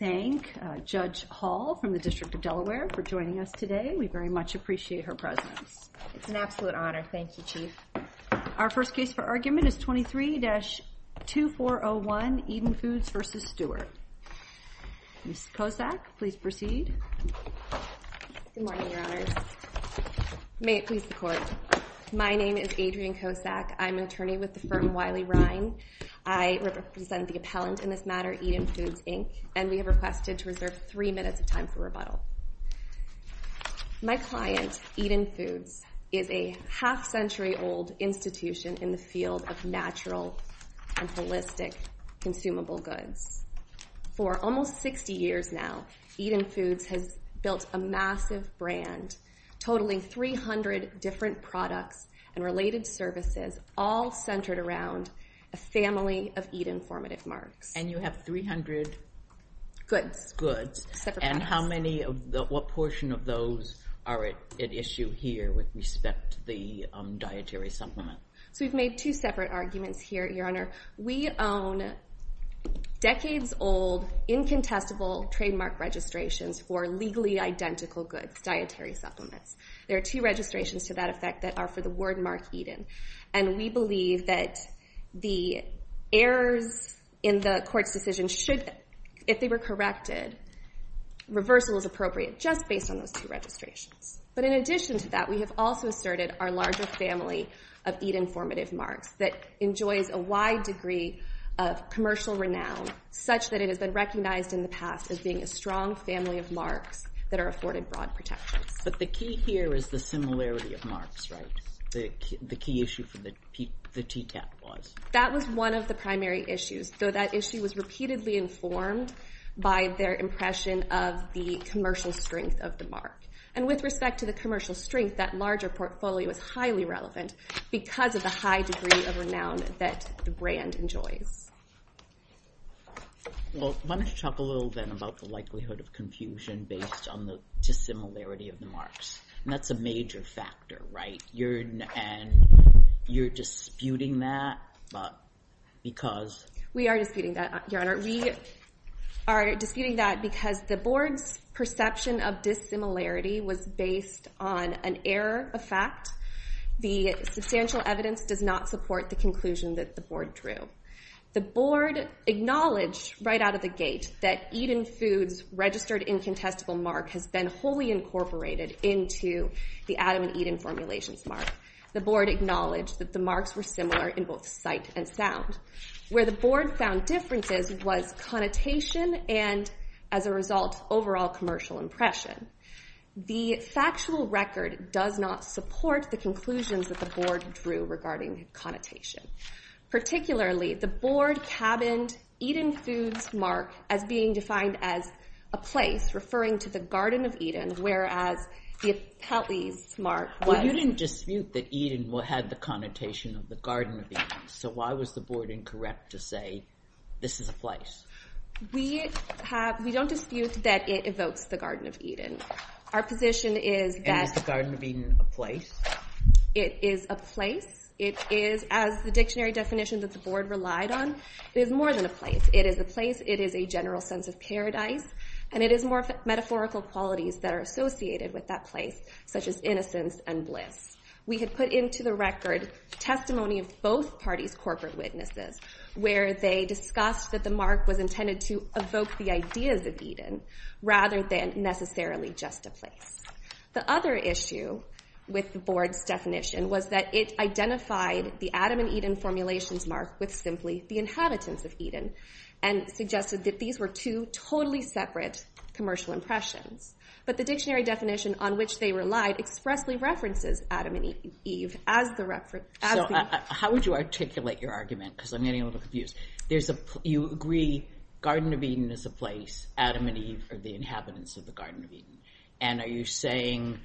23-2401 Eden Foods v. Stewart 23-2401. My client, Eden Foods, is a half century old institution in the field of natural, holistic consumable goods. For almost 60 years now, Eden Foods has built a massive brand, totaling 300 different products and related services all centered around a family of Eden Formative Marks and you have 300 goods and what portion of those are at issue here with respect to the dietary supplement? So we've made two separate arguments here, Your Honor. We own decades old, incontestable trademark registrations for legally identical goods, dietary supplements. There are two registrations to that effect that are for the word mark Eden and we believe that the errors in the court's decision, if they were corrected, reversal is appropriate just based on those two registrations. But in addition to that, we have also asserted our larger family of Eden Formative Marks that enjoys a wide degree of commercial renown such that it has been recognized in the past as being a strong family of marks that are afforded broad protections. But the key here is the similarity of marks, right? The key issue for the TTAP was. That was one of the primary issues, though that issue was repeatedly informed by their impression of the commercial strength of the mark and with respect to the commercial strength, that larger portfolio is highly relevant because of the high degree of renown that the brand enjoys. Well, why don't you talk a little bit about the likelihood of confusion based on the dissimilarity of the marks and that's a major factor, right? And you're disputing that because. We are disputing that, Your Honor. We are disputing that because the board's perception of dissimilarity was based on an error of fact. The substantial evidence does not support the conclusion that the board drew. The board acknowledged right out of the gate that Eden Foods registered incontestable mark has been wholly incorporated into the Adam and Eden Formulations mark. The board acknowledged that the marks were similar in both sight and sound. Where the board found differences was connotation and as a result, overall commercial impression. The factual record does not support the conclusions that the board drew regarding connotation. Particularly, the board cabined Eden Foods mark as being defined as a place referring to the Garden of Eden, whereas the Appellee's mark was. Well, you didn't dispute that Eden had the connotation of the Garden of Eden. So why was the board incorrect to say this is a place? We don't dispute that it evokes the Garden of Eden. Our position is that. And is the Garden of Eden a place? It is a place. It is, as the dictionary definition that the board relied on, it is more than a place. It is a place. It is a general sense of paradise. And it is more metaphorical qualities that are associated with that place, such as innocence and bliss. We had put into the record testimony of both parties' corporate witnesses, where they discussed that the mark was intended to evoke the ideas of Eden, rather than necessarily just a place. The other issue with the board's definition was that it identified the Adam and Eden Formulations mark with simply the inhabitants of Eden, and suggested that these were two totally separate commercial impressions. But the dictionary definition on which they relied expressly references Adam and Eve as the reference. So how would you articulate your argument, because I'm getting a little confused. You agree Garden of Eden is a place, Adam and Eve are the inhabitants of the Garden of Eden. And are you saying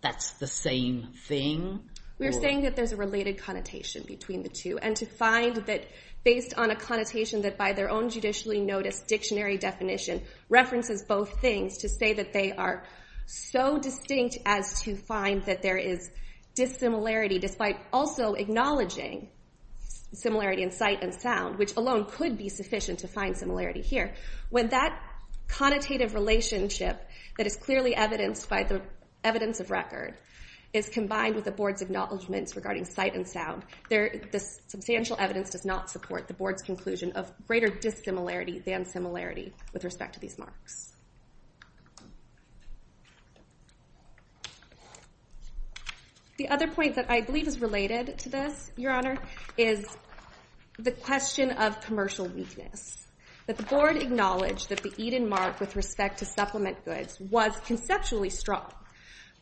that's the same thing? We're saying that there's a related connotation between the two. And to find that based on a connotation that by their own judicially noticed dictionary definition references both things, to say that they are so distinct as to find that there is dissimilarity, despite also acknowledging similarity in sight and sound, which alone could be sufficient to find similarity here. When that connotative relationship that is clearly evidenced by the evidence of record is combined with the board's acknowledgments regarding sight and sound, the substantial evidence does not support the board's conclusion of greater dissimilarity than similarity with respect to these marks. The other point that I believe is related to this, Your Honor, is the question of commercial weakness. That the board acknowledged that the Eden mark with respect to supplement goods was conceptually strong,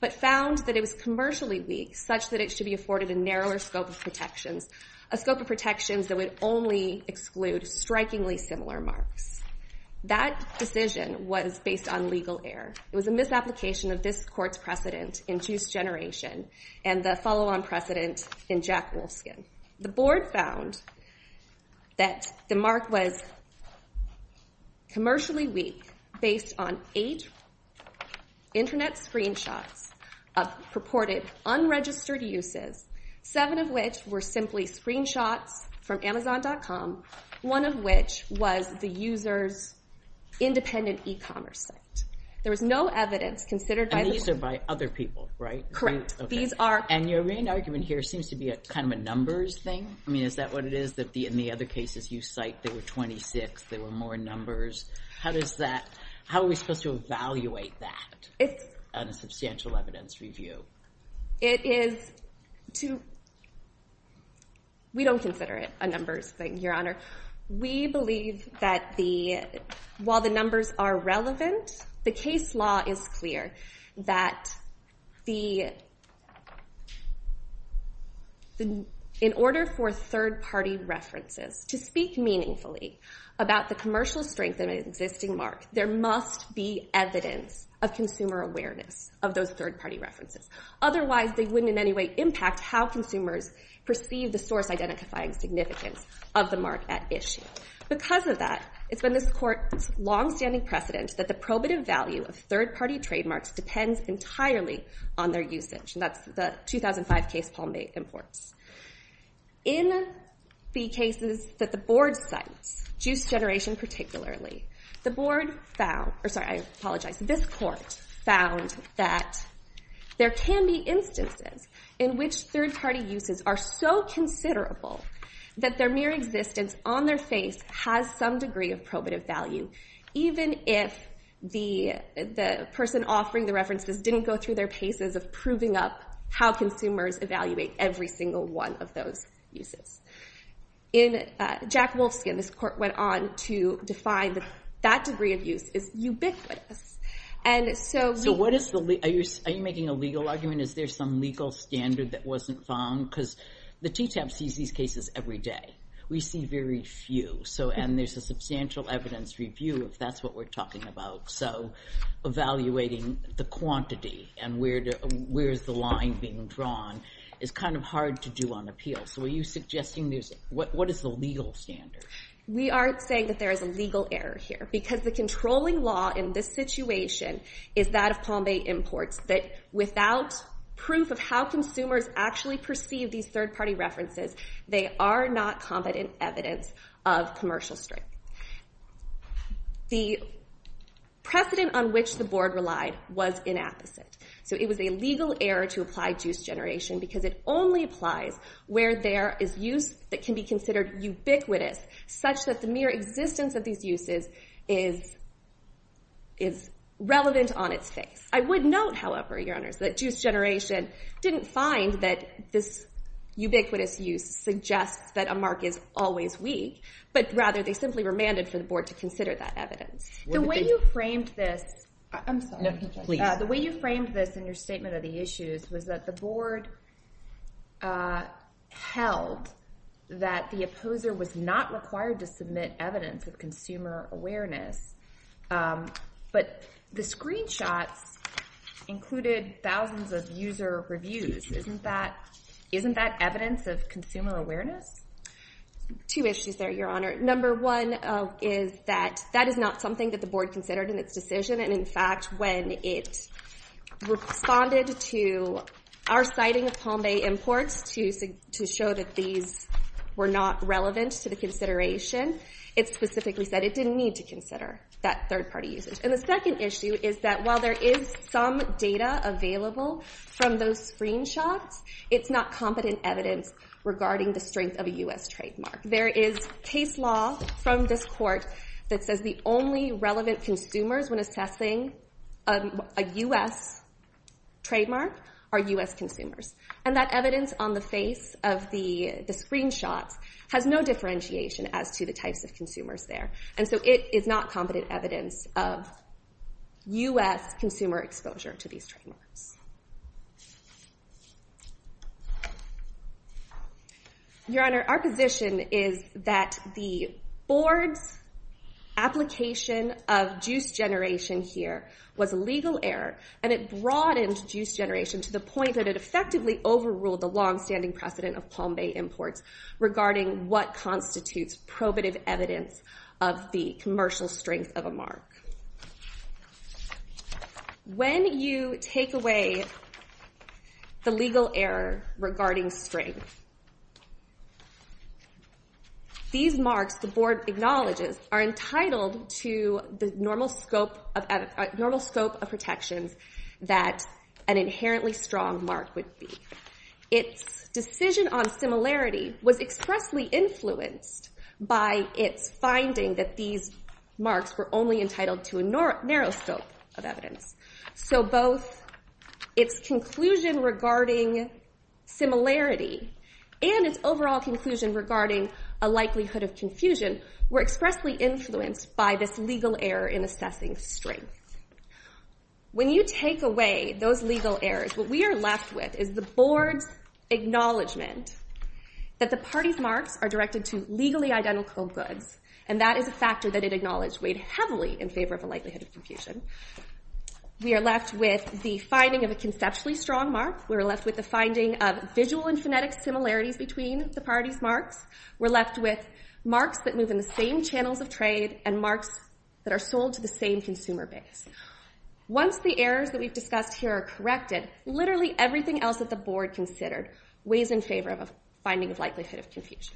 but found that it was commercially weak such that it should be afforded a narrower scope of protections, a scope of protections that would only exclude strikingly similar marks. That decision was based on legal error. It was a misapplication of this court's precedent in Juice Generation and the follow-on precedent in Jack Wolfskin. The board found that the mark was commercially weak based on eight internet screenshots of purported unregistered uses, seven of which were simply screenshots from Amazon.com, one of which was the user's independent e-commerce site. There was no evidence considered by the board. And these are by other people, right? Correct. And your main argument here seems to be a kind of a numbers thing. I mean, is that what it is, that in the other cases you cite there were 26, there were more numbers? How are we supposed to evaluate that on a substantial evidence review? We don't consider it a numbers thing, Your Honor. We believe that while the numbers are relevant, the case law is clear that in order for third-party references to speak meaningfully about the commercial strength of an existing mark, there must be evidence of consumer awareness of those third-party references. Otherwise, they wouldn't in any way impact how consumers perceive the source-identifying significance of the mark at issue. Because of that, it's been this court's long-standing precedent that the probative value of third-party trademarks depends entirely on their usage, and that's the 2005 case Paul May imports. In the cases that the board cites, juice generation particularly, the board found, or sorry, I apologize, this court found that there can be instances in which third-party uses are so considerable that their mere existence on their face has some degree of probative value, even if the person offering the references didn't go through their paces of proving up how consumers evaluate every single one of those uses. In Jack Wolfskin, this court went on to define that that degree of use is ubiquitous. And so we... So what is the... Are you making a legal argument? Is there some legal standard that wasn't found? Because the TTAP sees these cases every day. We see very few, and there's a substantial evidence review if that's what we're talking about. So evaluating the quantity and where is the line being drawn is kind of hard to do on appeal. So are you suggesting there's... What is the legal standard? We aren't saying that there is a legal error here, because the controlling law in this situation is that of Palm Bay Imports, that without proof of how consumers actually perceive these third-party references, they are not competent evidence of commercial strength. The precedent on which the board relied was inapposite. So it was a legal error to apply juice generation, because it only applies where there is use that can be considered ubiquitous, such that the mere existence of these uses is relevant on its face. I would note, however, Your Honors, that juice generation didn't find that this ubiquitous use suggests that a mark is always weak, but rather they simply remanded for the board to consider that evidence. The way you framed this... I'm sorry. No, please. The way you framed this in your statement of the issues was that the board held that the opposer was not required to submit evidence of consumer awareness, but the screenshots included thousands of user reviews. Isn't that evidence of consumer awareness? Two issues there, Your Honor. Number one is that that is not something that the board considered in its decision, and in fact, when it responded to our citing of Palm Bay imports to show that these were not relevant to the consideration, it specifically said it didn't need to consider that third-party usage. And the second issue is that while there is some data available from those screenshots, it's not competent evidence regarding the strength of a U.S. trademark. There is case law from this court that says the only relevant consumers when assessing a U.S. trademark are U.S. consumers, and that evidence on the face of the screenshots has no differentiation as to the types of consumers there. And so it is not competent evidence of U.S. consumer exposure to these trademarks. Your Honor, our position is that the board's application of juice generation here was a legal error, and it broadened juice generation to the point that it effectively overruled the longstanding precedent of Palm Bay imports regarding what constitutes probative evidence of the commercial strength of a mark. When you take away the legal error regarding strength, these marks the board acknowledges are entitled to the normal scope of protections that an inherently strong mark would be. Its decision on similarity was expressly influenced by its finding that these marks were only entitled to a narrow scope of evidence. So both its conclusion regarding similarity and its overall conclusion regarding a likelihood of confusion were expressly influenced by this legal error in assessing strength. When you take away those legal errors, what we are left with is the board's acknowledgment that the party's marks are directed to legally identical goods, and that is a factor that it acknowledged weighed heavily in favor of a likelihood of confusion. We are left with the finding of a conceptually strong mark. We're left with the finding of visual and phonetic similarities between the party's We're left with marks that move in the same channels of trade and marks that are sold to the same consumer base. Once the errors that we've discussed here are corrected, literally everything else that the board considered weighs in favor of a finding of likelihood of confusion.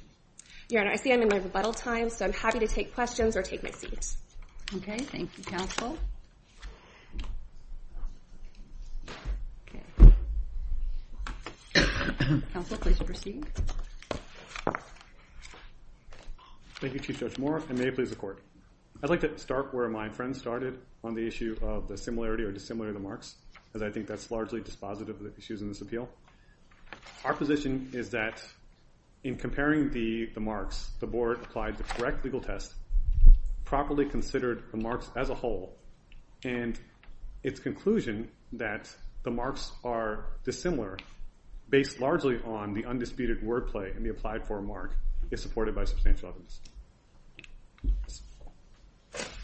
Your Honor, I see I'm in my rebuttal time, so I'm happy to take questions or take my seat. Okay, thank you, counsel. Counsel, please proceed. Thank you, Chief Judge Moore, and may it please the Court. I'd like to start where my friend started on the issue of the similarity or dissimilarity of the marks, as I think that's largely dispositive of the issues in this appeal. Our position is that in comparing the marks, the board applied the correct legal test, properly considered the marks as a whole, and its conclusion that the marks are dissimilar based largely on the undisputed wordplay in the applied-for mark is supported by substantial evidence.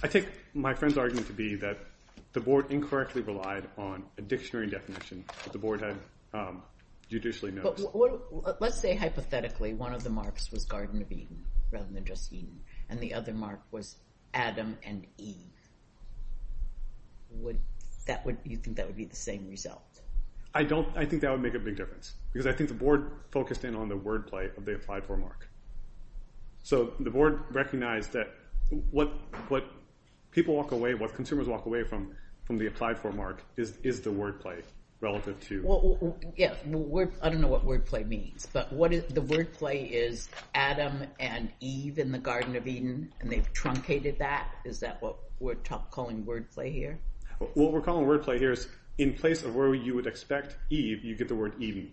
I take my friend's argument to be that the board incorrectly relied on a dictionary definition that the board had judicially noticed. Let's say, hypothetically, one of the marks was Garden of Eden, rather than just Eden, and the other mark was Adam and Eve. You think that would be the same result? I think that would make a big difference, because I think the board focused in on the wordplay of the applied-for mark. So the board recognized that what people walk away, what consumers walk away from from the applied-for mark is the wordplay relative to... I don't know what wordplay means, but the wordplay is Adam and Eve in the Garden of Eden, and they've truncated that? Is that what we're calling wordplay here? What we're calling wordplay here is, in place of where you would expect Eve, you get the word Eden.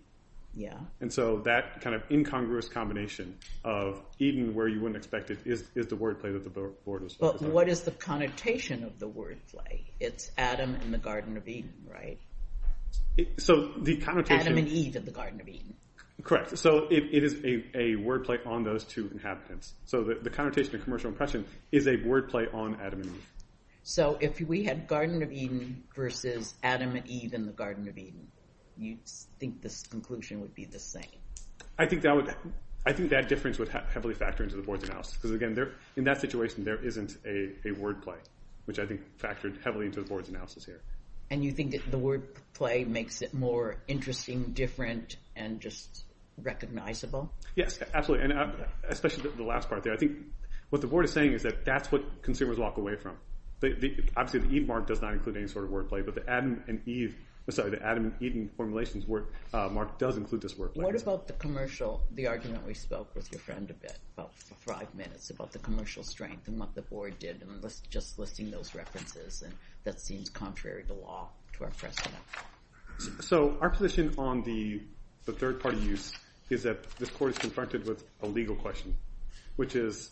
And so that kind of incongruous combination of Eden, where you wouldn't expect it, is the wordplay that the board was focused on. But what is the connotation of the wordplay? It's Adam in the Garden of Eden, right? So the connotation... Adam and Eve in the Garden of Eden. Correct. So it is a wordplay on those two inhabitants. So the connotation of commercial impression is a wordplay on Adam and Eve. So if we had Garden of Eden versus Adam and Eve in the Garden of Eden, you'd think the conclusion would be the same? I think that difference would heavily factor into the board's analysis, because, again, in that situation, there isn't a wordplay, which I think factored heavily into the board's analysis here. And you think the wordplay makes it more interesting, different, and just recognizable? Yes, absolutely, especially the last part there. I think what the board is saying is that that's what consumers walk away from. Obviously, the Eve mark does not include any sort of wordplay, but the Adam and Eden formulations mark does include this wordplay. What about the argument we spoke with your friend about for five minutes about the commercial strength and what the board did, just listing those references, and that seems contrary to law to our precedent? So our position on the third-party use is that this court is confronted with a legal question, which is,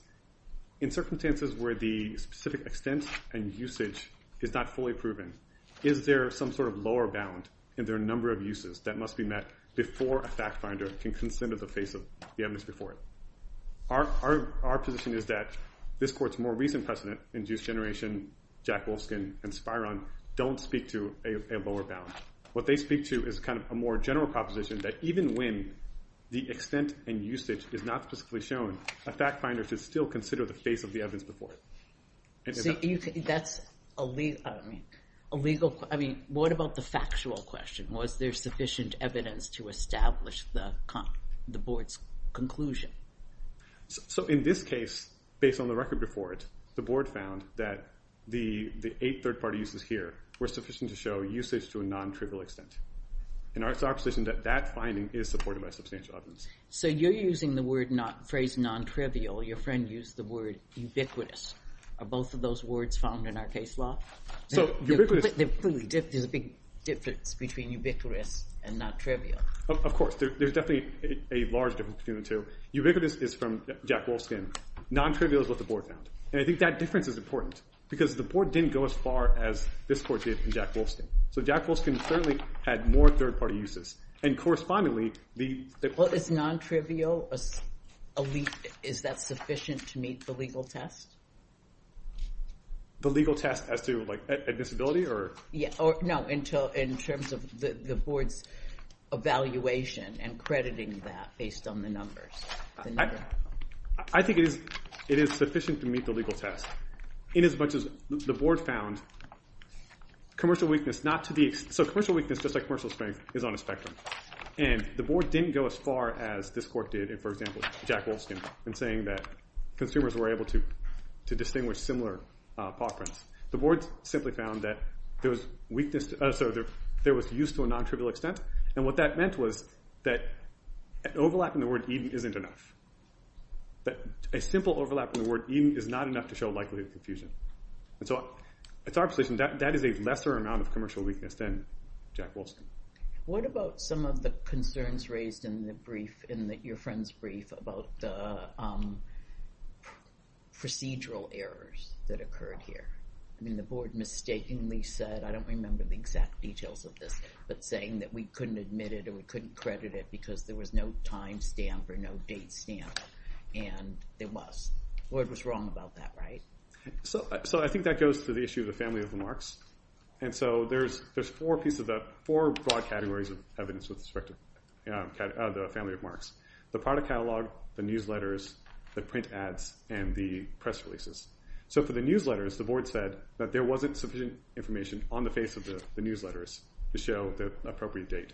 in circumstances where the specific extent and usage is not fully proven, is there some sort of lower bound in their number of uses that must be met before a factfinder can consider the face of the evidence before it? Our position is that this court's more recent precedent, Induced Generation, Jack Wolfskin, and Spiron, don't speak to a lower bound. What they speak to is kind of a more general proposition that even when the extent and usage is not specifically shown, a factfinder should still consider the face of the evidence before it. So that's a legal... I mean, what about the factual question? Was there sufficient evidence to establish the board's conclusion? So in this case, based on the record before it, the board found that the eight third-party uses here were sufficient to show usage to a non-trivial extent. And our position is that that finding is supported by substantial evidence. So you're using the phrase non-trivial, your friend used the word ubiquitous. Are both of those words found in our case law? So ubiquitous... There's a big difference between ubiquitous and non-trivial. Of course. There's definitely a large difference between the two. Ubiquitous is from Jack Wolfskin. Non-trivial is what the board found. And I think that difference is important, because the board didn't go as far as this court did in Jack Wolfskin. So Jack Wolfskin certainly had more third-party uses. And correspondingly, the... Well, is non-trivial, is that sufficient to meet the legal test? The legal test as to, like, admissibility? No, in terms of the board's evaluation and crediting that based on the numbers. I think it is sufficient to meet the legal test. In as much as the board found commercial weakness not to be... So commercial weakness, just like commercial strength, is on a spectrum. And the board didn't go as far as this court did in, for example, Jack Wolfskin, in saying that consumers were able to distinguish similar paw prints. The board simply found that there was used to a non-trivial extent. And what that meant was that an overlap in the word even isn't enough. That a simple overlap in the word even is not enough to show likelihood of confusion. And so it's our position that that is a lesser amount of commercial weakness than Jack Wolfskin. What about some of the concerns raised in your friend's brief about the procedural errors that occurred here? I mean, the board mistakenly said, I don't remember the exact details of this, but saying that we couldn't admit it or we couldn't credit it because there was no time stamp or no date stamp. And there was. The board was wrong about that, right? So I think that goes to the issue of the family of marks. And so there's four broad categories of evidence with respect to the family of marks. The product catalog, the newsletters, the print ads, and the press releases. So for the newsletters, the board said that there wasn't sufficient information on the face of the newsletters to show the appropriate date.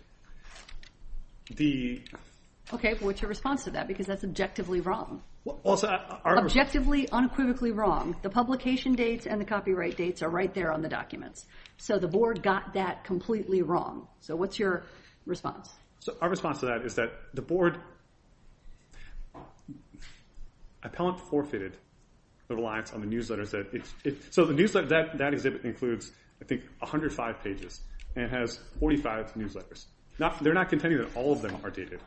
Okay, but what's your response to that? Because that's objectively wrong. Objectively, unequivocally wrong. The publication dates and the copyright dates are right there on the documents. So the board got that completely wrong. So what's your response? So our response to that is that the board... Appellant forfeited the reliance on the newsletters. So that exhibit includes, I think, 105 pages and has 45 newsletters. They're not contending that all of them are dated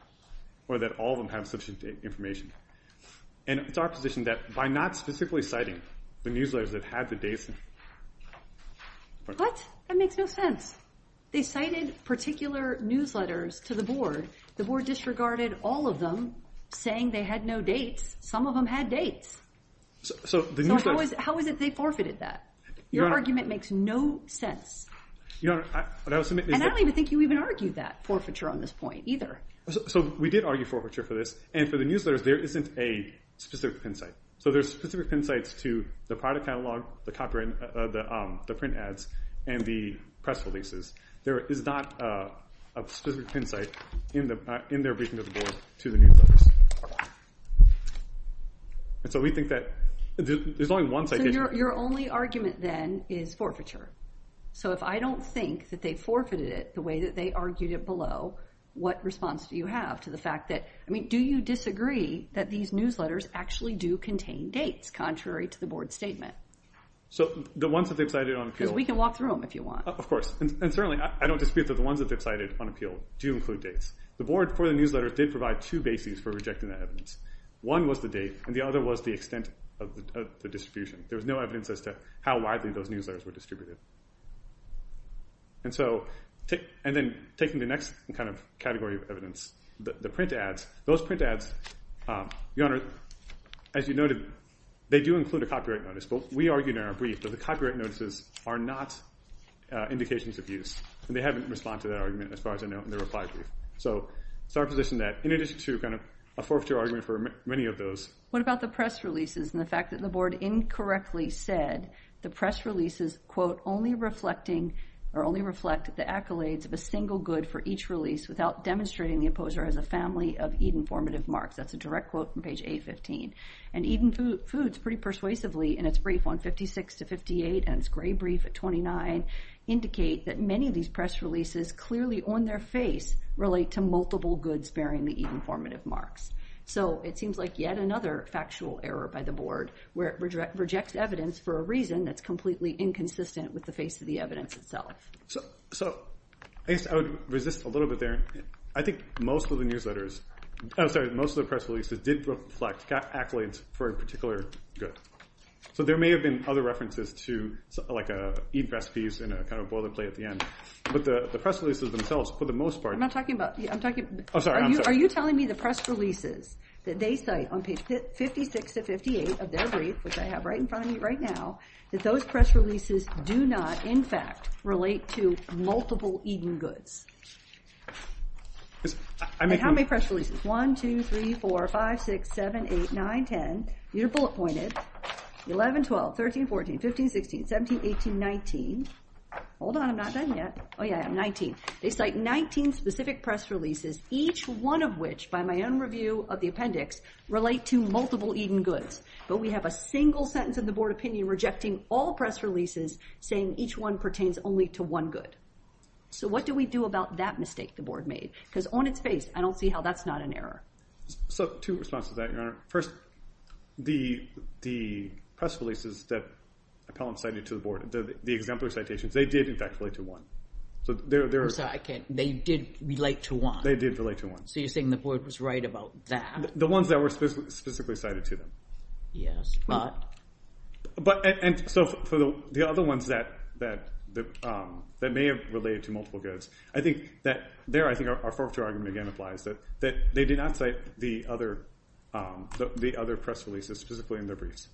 or that all of them have sufficient information. And it's our position that by not specifically citing the newsletters that had the dates... What? That makes no sense. They cited particular newsletters to the board. The board disregarded all of them, saying they had no dates. Some of them had dates. So how is it they forfeited that? Your argument makes no sense. And I don't even think you even argued that forfeiture on this point either. So we did argue forfeiture for this. And for the newsletters, there isn't a specific pin site. So there's specific pin sites to the product catalog, the print ads, and the press releases. There is not a specific pin site in their briefing to the board to the newsletters. And so we think that... So your only argument then is forfeiture. So if I don't think that they forfeited it the way that they argued it below, what response do you have to the fact that... Do you disagree that these newsletters actually do contain dates, contrary to the board's statement? So the ones that they've cited on appeal... Because we can walk through them if you want. Of course. And certainly, I don't dispute that the ones that they've cited on appeal do include dates. The board, for the newsletters, did provide two bases for rejecting that evidence. One was the date, and the other was the extent of the distribution. There was no evidence as to how widely those newsletters were distributed. And then taking the next category of evidence, the print ads. Those print ads, Your Honor, as you noted, they do include a copyright notice. But we argued in our brief that the copyright notices are not indications of use. And they haven't responded to that argument as far as I know in the reply brief. So it's our position that, in addition to a forfeiture argument for many of those... What about the press releases and the fact that the board incorrectly said the press releases, quote, only reflect the accolades of a single good for each release without demonstrating the opposer as a family of Eden formative marks. That's a direct quote from page 815. And Eden Foods, pretty persuasively, in its brief on 56 to 58, and its gray brief at 29, indicate that many of these press releases, clearly on their face, relate to multiple goods bearing the Eden formative marks. So it seems like yet another factual error by the board, where it rejects evidence for a reason that's completely inconsistent with the face of the evidence itself. So I guess I would resist a little bit there. I think most of the newsletters... I'm sorry, most of the press releases did reflect accolades for a particular good. So there may have been other references to, like, Eden recipes in a kind of boilerplate at the end. But the press releases themselves, for the most part... I'm not talking about... I'm talking... I'm sorry, I'm sorry. Are you telling me the press releases that they cite on page 56 to 58 of their brief, which I have right in front of me right now, that those press releases do not, in fact, relate to multiple Eden goods? How many press releases? 1, 2, 3, 4, 5, 6, 7, 8, 9, 10. You're bullet-pointed. 11, 12, 13, 14, 15, 16, 17, 18, 19. Hold on, I'm not done yet. Oh yeah, 19. They cite 19 specific press releases, each one of which, by my own review of the appendix, relate to multiple Eden goods. But we have a single sentence in the board opinion rejecting all press releases, saying each one pertains only to one good. So what do we do about that mistake the board made? Because on its face, I don't see how that's not an error. So two responses to that, Your Honor. First, the press releases that appellants cited to the board, the exemplary citations, they did, in fact, relate to one. I'm sorry, I can't... They did relate to one? They did relate to one. So you're saying the board was right about that? The ones that were specifically cited to them. Yes, but? But, and so for the other ones that may have related to multiple goods, I think that there, I think our forfeiture argument again applies, that they did not cite the other press releases specifically in their briefs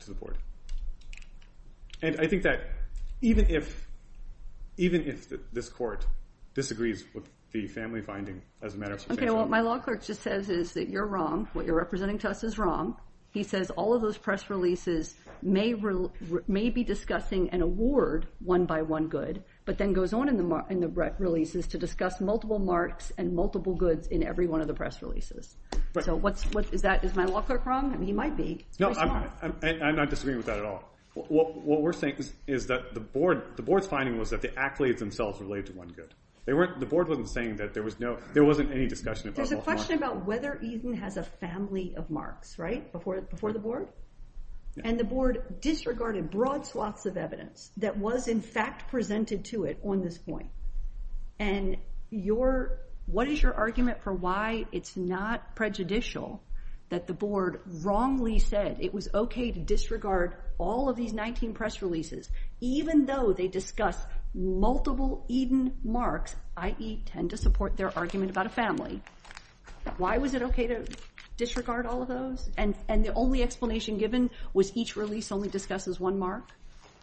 to the board. And I think that even if this court disagrees with the family finding as a matter of substantial... Okay, what my law clerk just says is that you're wrong. What you're representing to us is wrong. He says all of those press releases may be discussing an award one by one good, but then goes on in the releases to discuss multiple marks and multiple goods in every one of the press releases. So is my law clerk wrong? He might be. No, I'm not disagreeing with that at all. What we're saying is that the board's finding was that the accolades themselves relate to one good. The board wasn't saying that there was no, there wasn't any discussion about multiple marks. There's a question about whether Eden has a family of marks, right, before the board? And the board disregarded broad swaths of evidence that was in fact presented to it on this point. And your, what is your argument for why it's not prejudicial that the board wrongly said it was okay to disregard all of these 19 press releases even though they discuss multiple Eden marks, i.e. tend to support their argument about a family? Why was it okay to disregard all of those? And the only explanation given was each release only discusses one mark?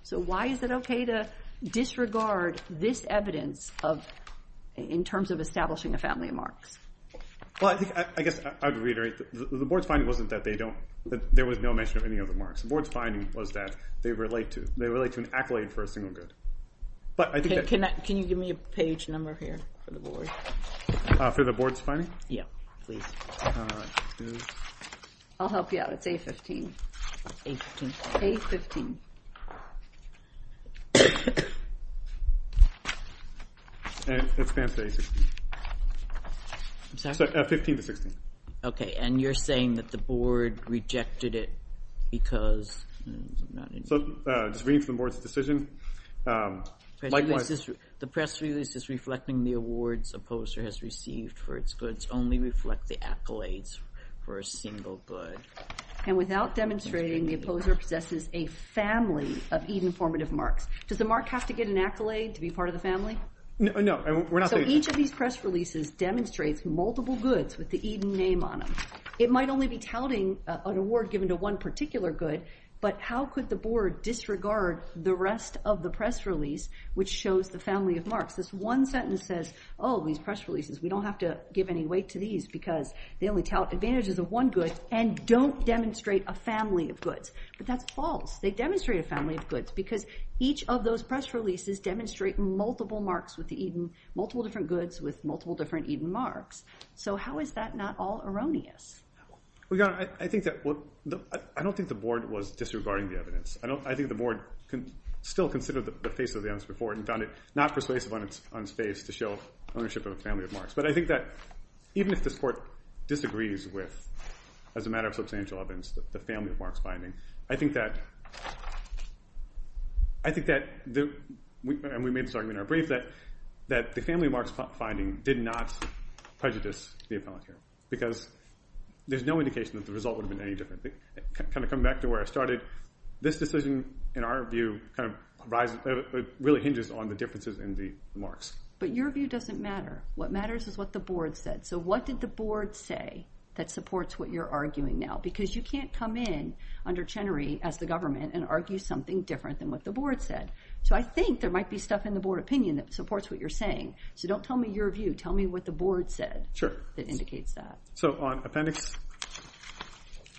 So why is it okay to disregard this evidence of, in terms of establishing a family of marks? Well, I think, I guess I would reiterate the board's finding wasn't that they don't, that there was no mention of any of the marks. The board's finding was that they relate to, they relate to an accolade for a single good. But I think that... Can you give me a page number here for the board? For the board's finding? Yeah, please. I'll help you out. It's A15. A15. A15. And it spans to A16. I'm sorry? 15 to 16. Okay, and you're saying that the board rejected it because... So just reading from the board's decision... The press release is reflecting the awards Opposer has received for its goods only reflect the accolades for a single good. And without demonstrating the Opposer possesses a family of Eden formative marks. Does the mark have to get an accolade to be part of the family? No. So each of these press releases demonstrates multiple goods with the Eden name on them. It might only be touting an award given to one particular good. But how could the board disregard the rest of the press release which shows the family of marks? This one sentence says, oh, these press releases, we don't have to give any weight to these because they only tout advantages of one good and don't demonstrate a family of goods. But that's false. They demonstrate a family of goods because each of those press releases demonstrate multiple marks with the Eden, multiple different goods with multiple different Eden marks. So how is that not all erroneous? Well, Your Honor, I don't think the board was disregarding the evidence. I think the board still considered the face of the evidence before and found it not persuasive on its face to show ownership of a family of marks. But I think that even if this court disagrees with, as a matter of substantial evidence, the family of marks finding, I think that I think that and we made this argument in our brief that the family of marks finding did not prejudice the appellate hearing because there's no indication that the result would have been any different. Kind of coming back to where I started, this decision, in our view, really hinges on the differences in the marks. But your view doesn't matter. What matters is what the board said. So what did the board say that supports what you're arguing now? Because you can't come in under Chenery as the government and argue something different than what the board said. So I think there might be stuff in the board opinion that supports what you're saying. So don't tell me your view, tell me what the board said that indicates that. So on Appendix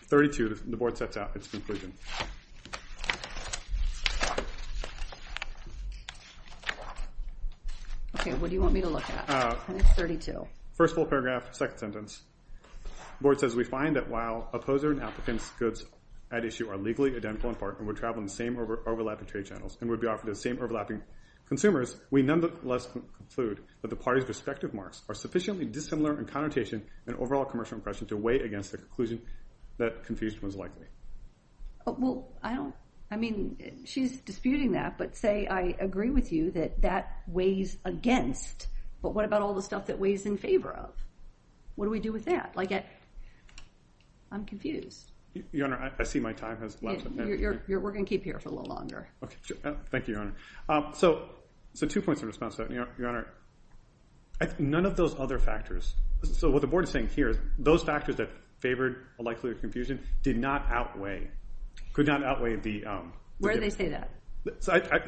32, the board sets out its conclusion. Okay, what do you want me to look at? Appendix 32. First full paragraph, second sentence. The board says, We find that while opposer and applicants' goods at issue are legally identical in part and would travel in the same overlapping trade channels and would be offered to the same overlapping consumers, we nonetheless conclude that the parties' respective marks are sufficiently dissimilar in connotation and overall commercial impression to weigh against the conclusion that confusion was likely. Well, I don't, I mean, she's disputing that, but say I agree with you that that weighs against, but what about all the stuff that weighs in favor of? What do we do with that? Like, I'm confused. Your Honor, I see my time has lapsed. We're going to keep here for a little longer. Okay, sure. Thank you, Your Honor. So two points of response, Your Honor. None of those other factors, so what the board is saying here is those factors that favored a likelihood of confusion did not outweigh, could not outweigh the... Where do they say that?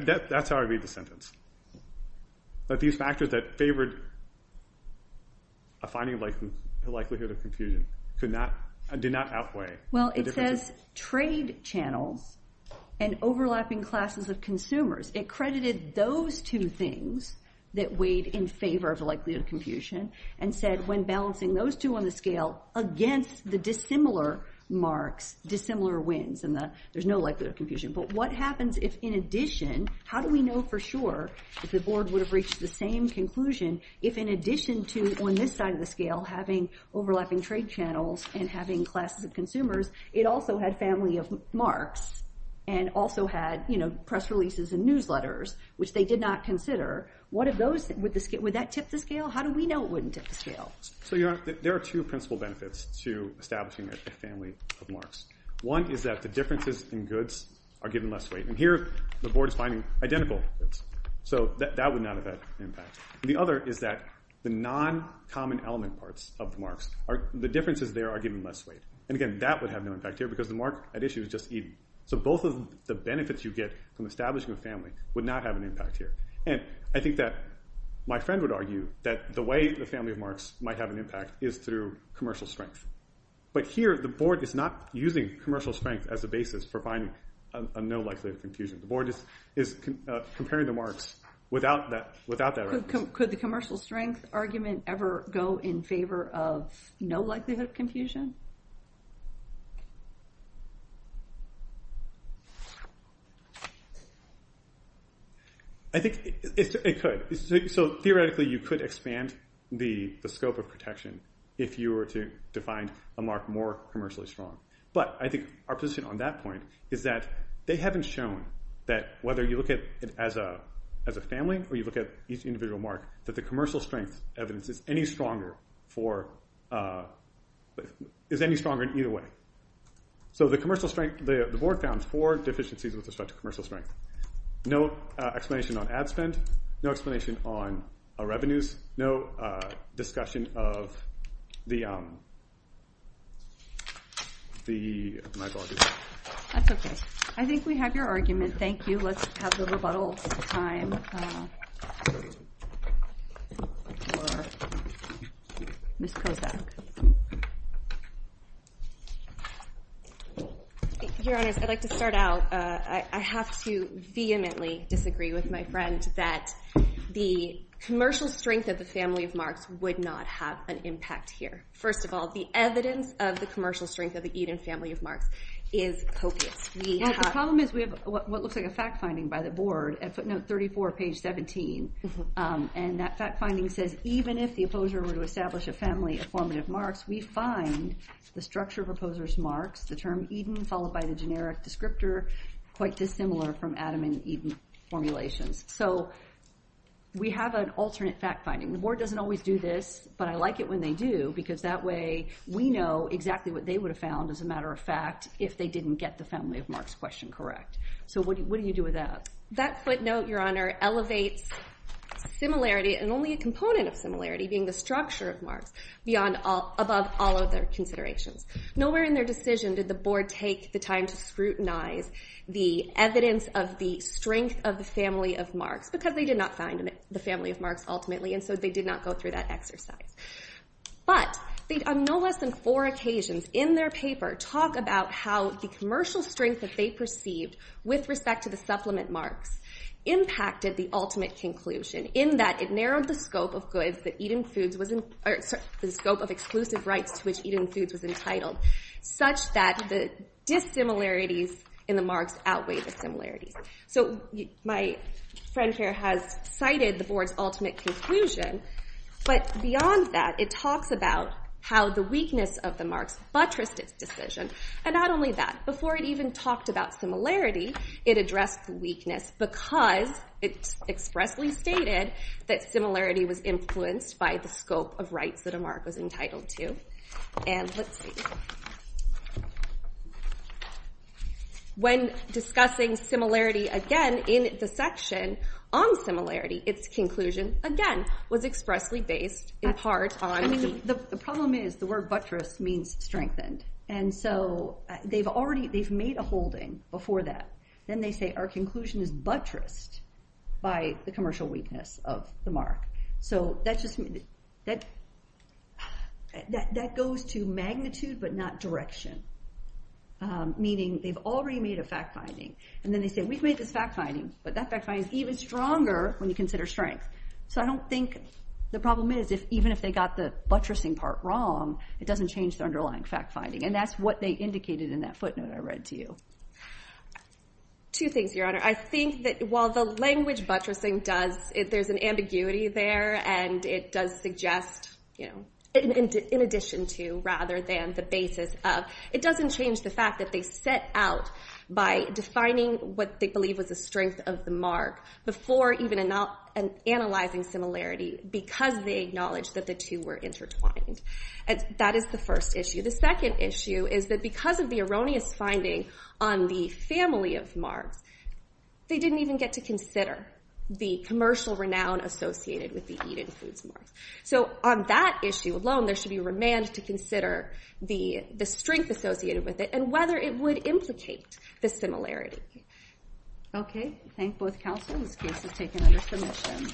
That's how I read the sentence. That these factors that favored a finding of likelihood of confusion did not outweigh... Well, it says trade channels and overlapping classes of consumers. It credited those two things that weighed in favor of likelihood of confusion and said when balancing those two on the scale against the dissimilar marks, dissimilar wins, there's no likelihood of confusion. But what happens if in addition, how do we know for sure if the board would have reached the same conclusion if in addition to on this side of the scale having overlapping trade channels and having classes of consumers, it also had family of marks and also had, you know, press releases and newsletters which they did not consider would that tip the scale? How do we know it wouldn't tip the scale? So, Your Honor, there are two principal benefits to establishing a family of marks. One is that the differences in goods are given less weight. And here, the board is finding identical. So that would not have that impact. The other is that the non-common element parts of the marks the differences there are given less weight. And again, that would have no impact here because the mark at issue is just even. So both of the benefits you get from establishing a family of marks would not have an impact here. And I think that my friend would argue that the way the family of marks might have an impact is through commercial strength. But here, the board is not using commercial strength as a basis for finding a no likelihood of confusion. The board is comparing the marks without that argument. Could the commercial strength argument ever go in favor of no likelihood of confusion? I think it could. So theoretically you could expand the scope of protection if you were to find a mark more commercially strong. But I think our position on that point is that they haven't shown that whether you look at it as a family or you look at each individual mark that the commercial strength evidence is any stronger for is any stronger in either way. So the commercial strength the board found four deficiencies with respect to commercial strength. No explanation on ad spend. No explanation on revenues. No discussion of the my apologies. That's okay. I think we have your argument. Thank you. Let's have the rebuttal time for Ms. Kozak. Your Honors, I'd like to start out with I have to vehemently disagree with my friend that the strength of the family of would not have an impact here. First of all the evidence of the commercial strength of the family of is copious. The problem is we have what looks like a fact finding by the board at footnote 34 page 17 and that fact finding says even if the opposer were to a family of formative marks we find the structure of marks the term Eden followed by the descriptor quite dissimilar from Adam and Eden That footnote elevates similarity and only a component of similarity being the structure of marks above all other considerations. Nowhere in their decision did the take the time to scrutinize the evidence of the of the of because they did not find the family of ultimately and so they did not go through that exercise. But on no less than four occasions in their paper talk about how the strength that they perceived with respect to the supplement marks impacted the ultimate conclusion So my friend here has cited the board's ultimate conclusion but beyond that it talks about how the weakness of the buttressed its decision and not only that before it even talked about similarity it addressed the because it expressly stated that similarity was influenced by the scope of rights that a mark was entitled to and let's see when discussing similarity again in the section on similarity its conclusion again was expressly based in part on the problem is the word buttressed means strengthened and so they've already they've made a holding before that then they say our conclusion is buttressed by the weakness of the so that goes to magnitude but not direction meaning they've already made a fact finding and then they say we've made this fact finding but that fact finding is even stronger when you consider strength so I don't think the problem is if even if they got the part wrong it doesn't change the underlying fact finding and that's what they indicated in that footnote I read to you two things one is that they didn't consider mark before even analyzing similarity because they acknowledged that the two were intertwined that is the first issue the second issue is that because of erroneous finding on the first issue they truth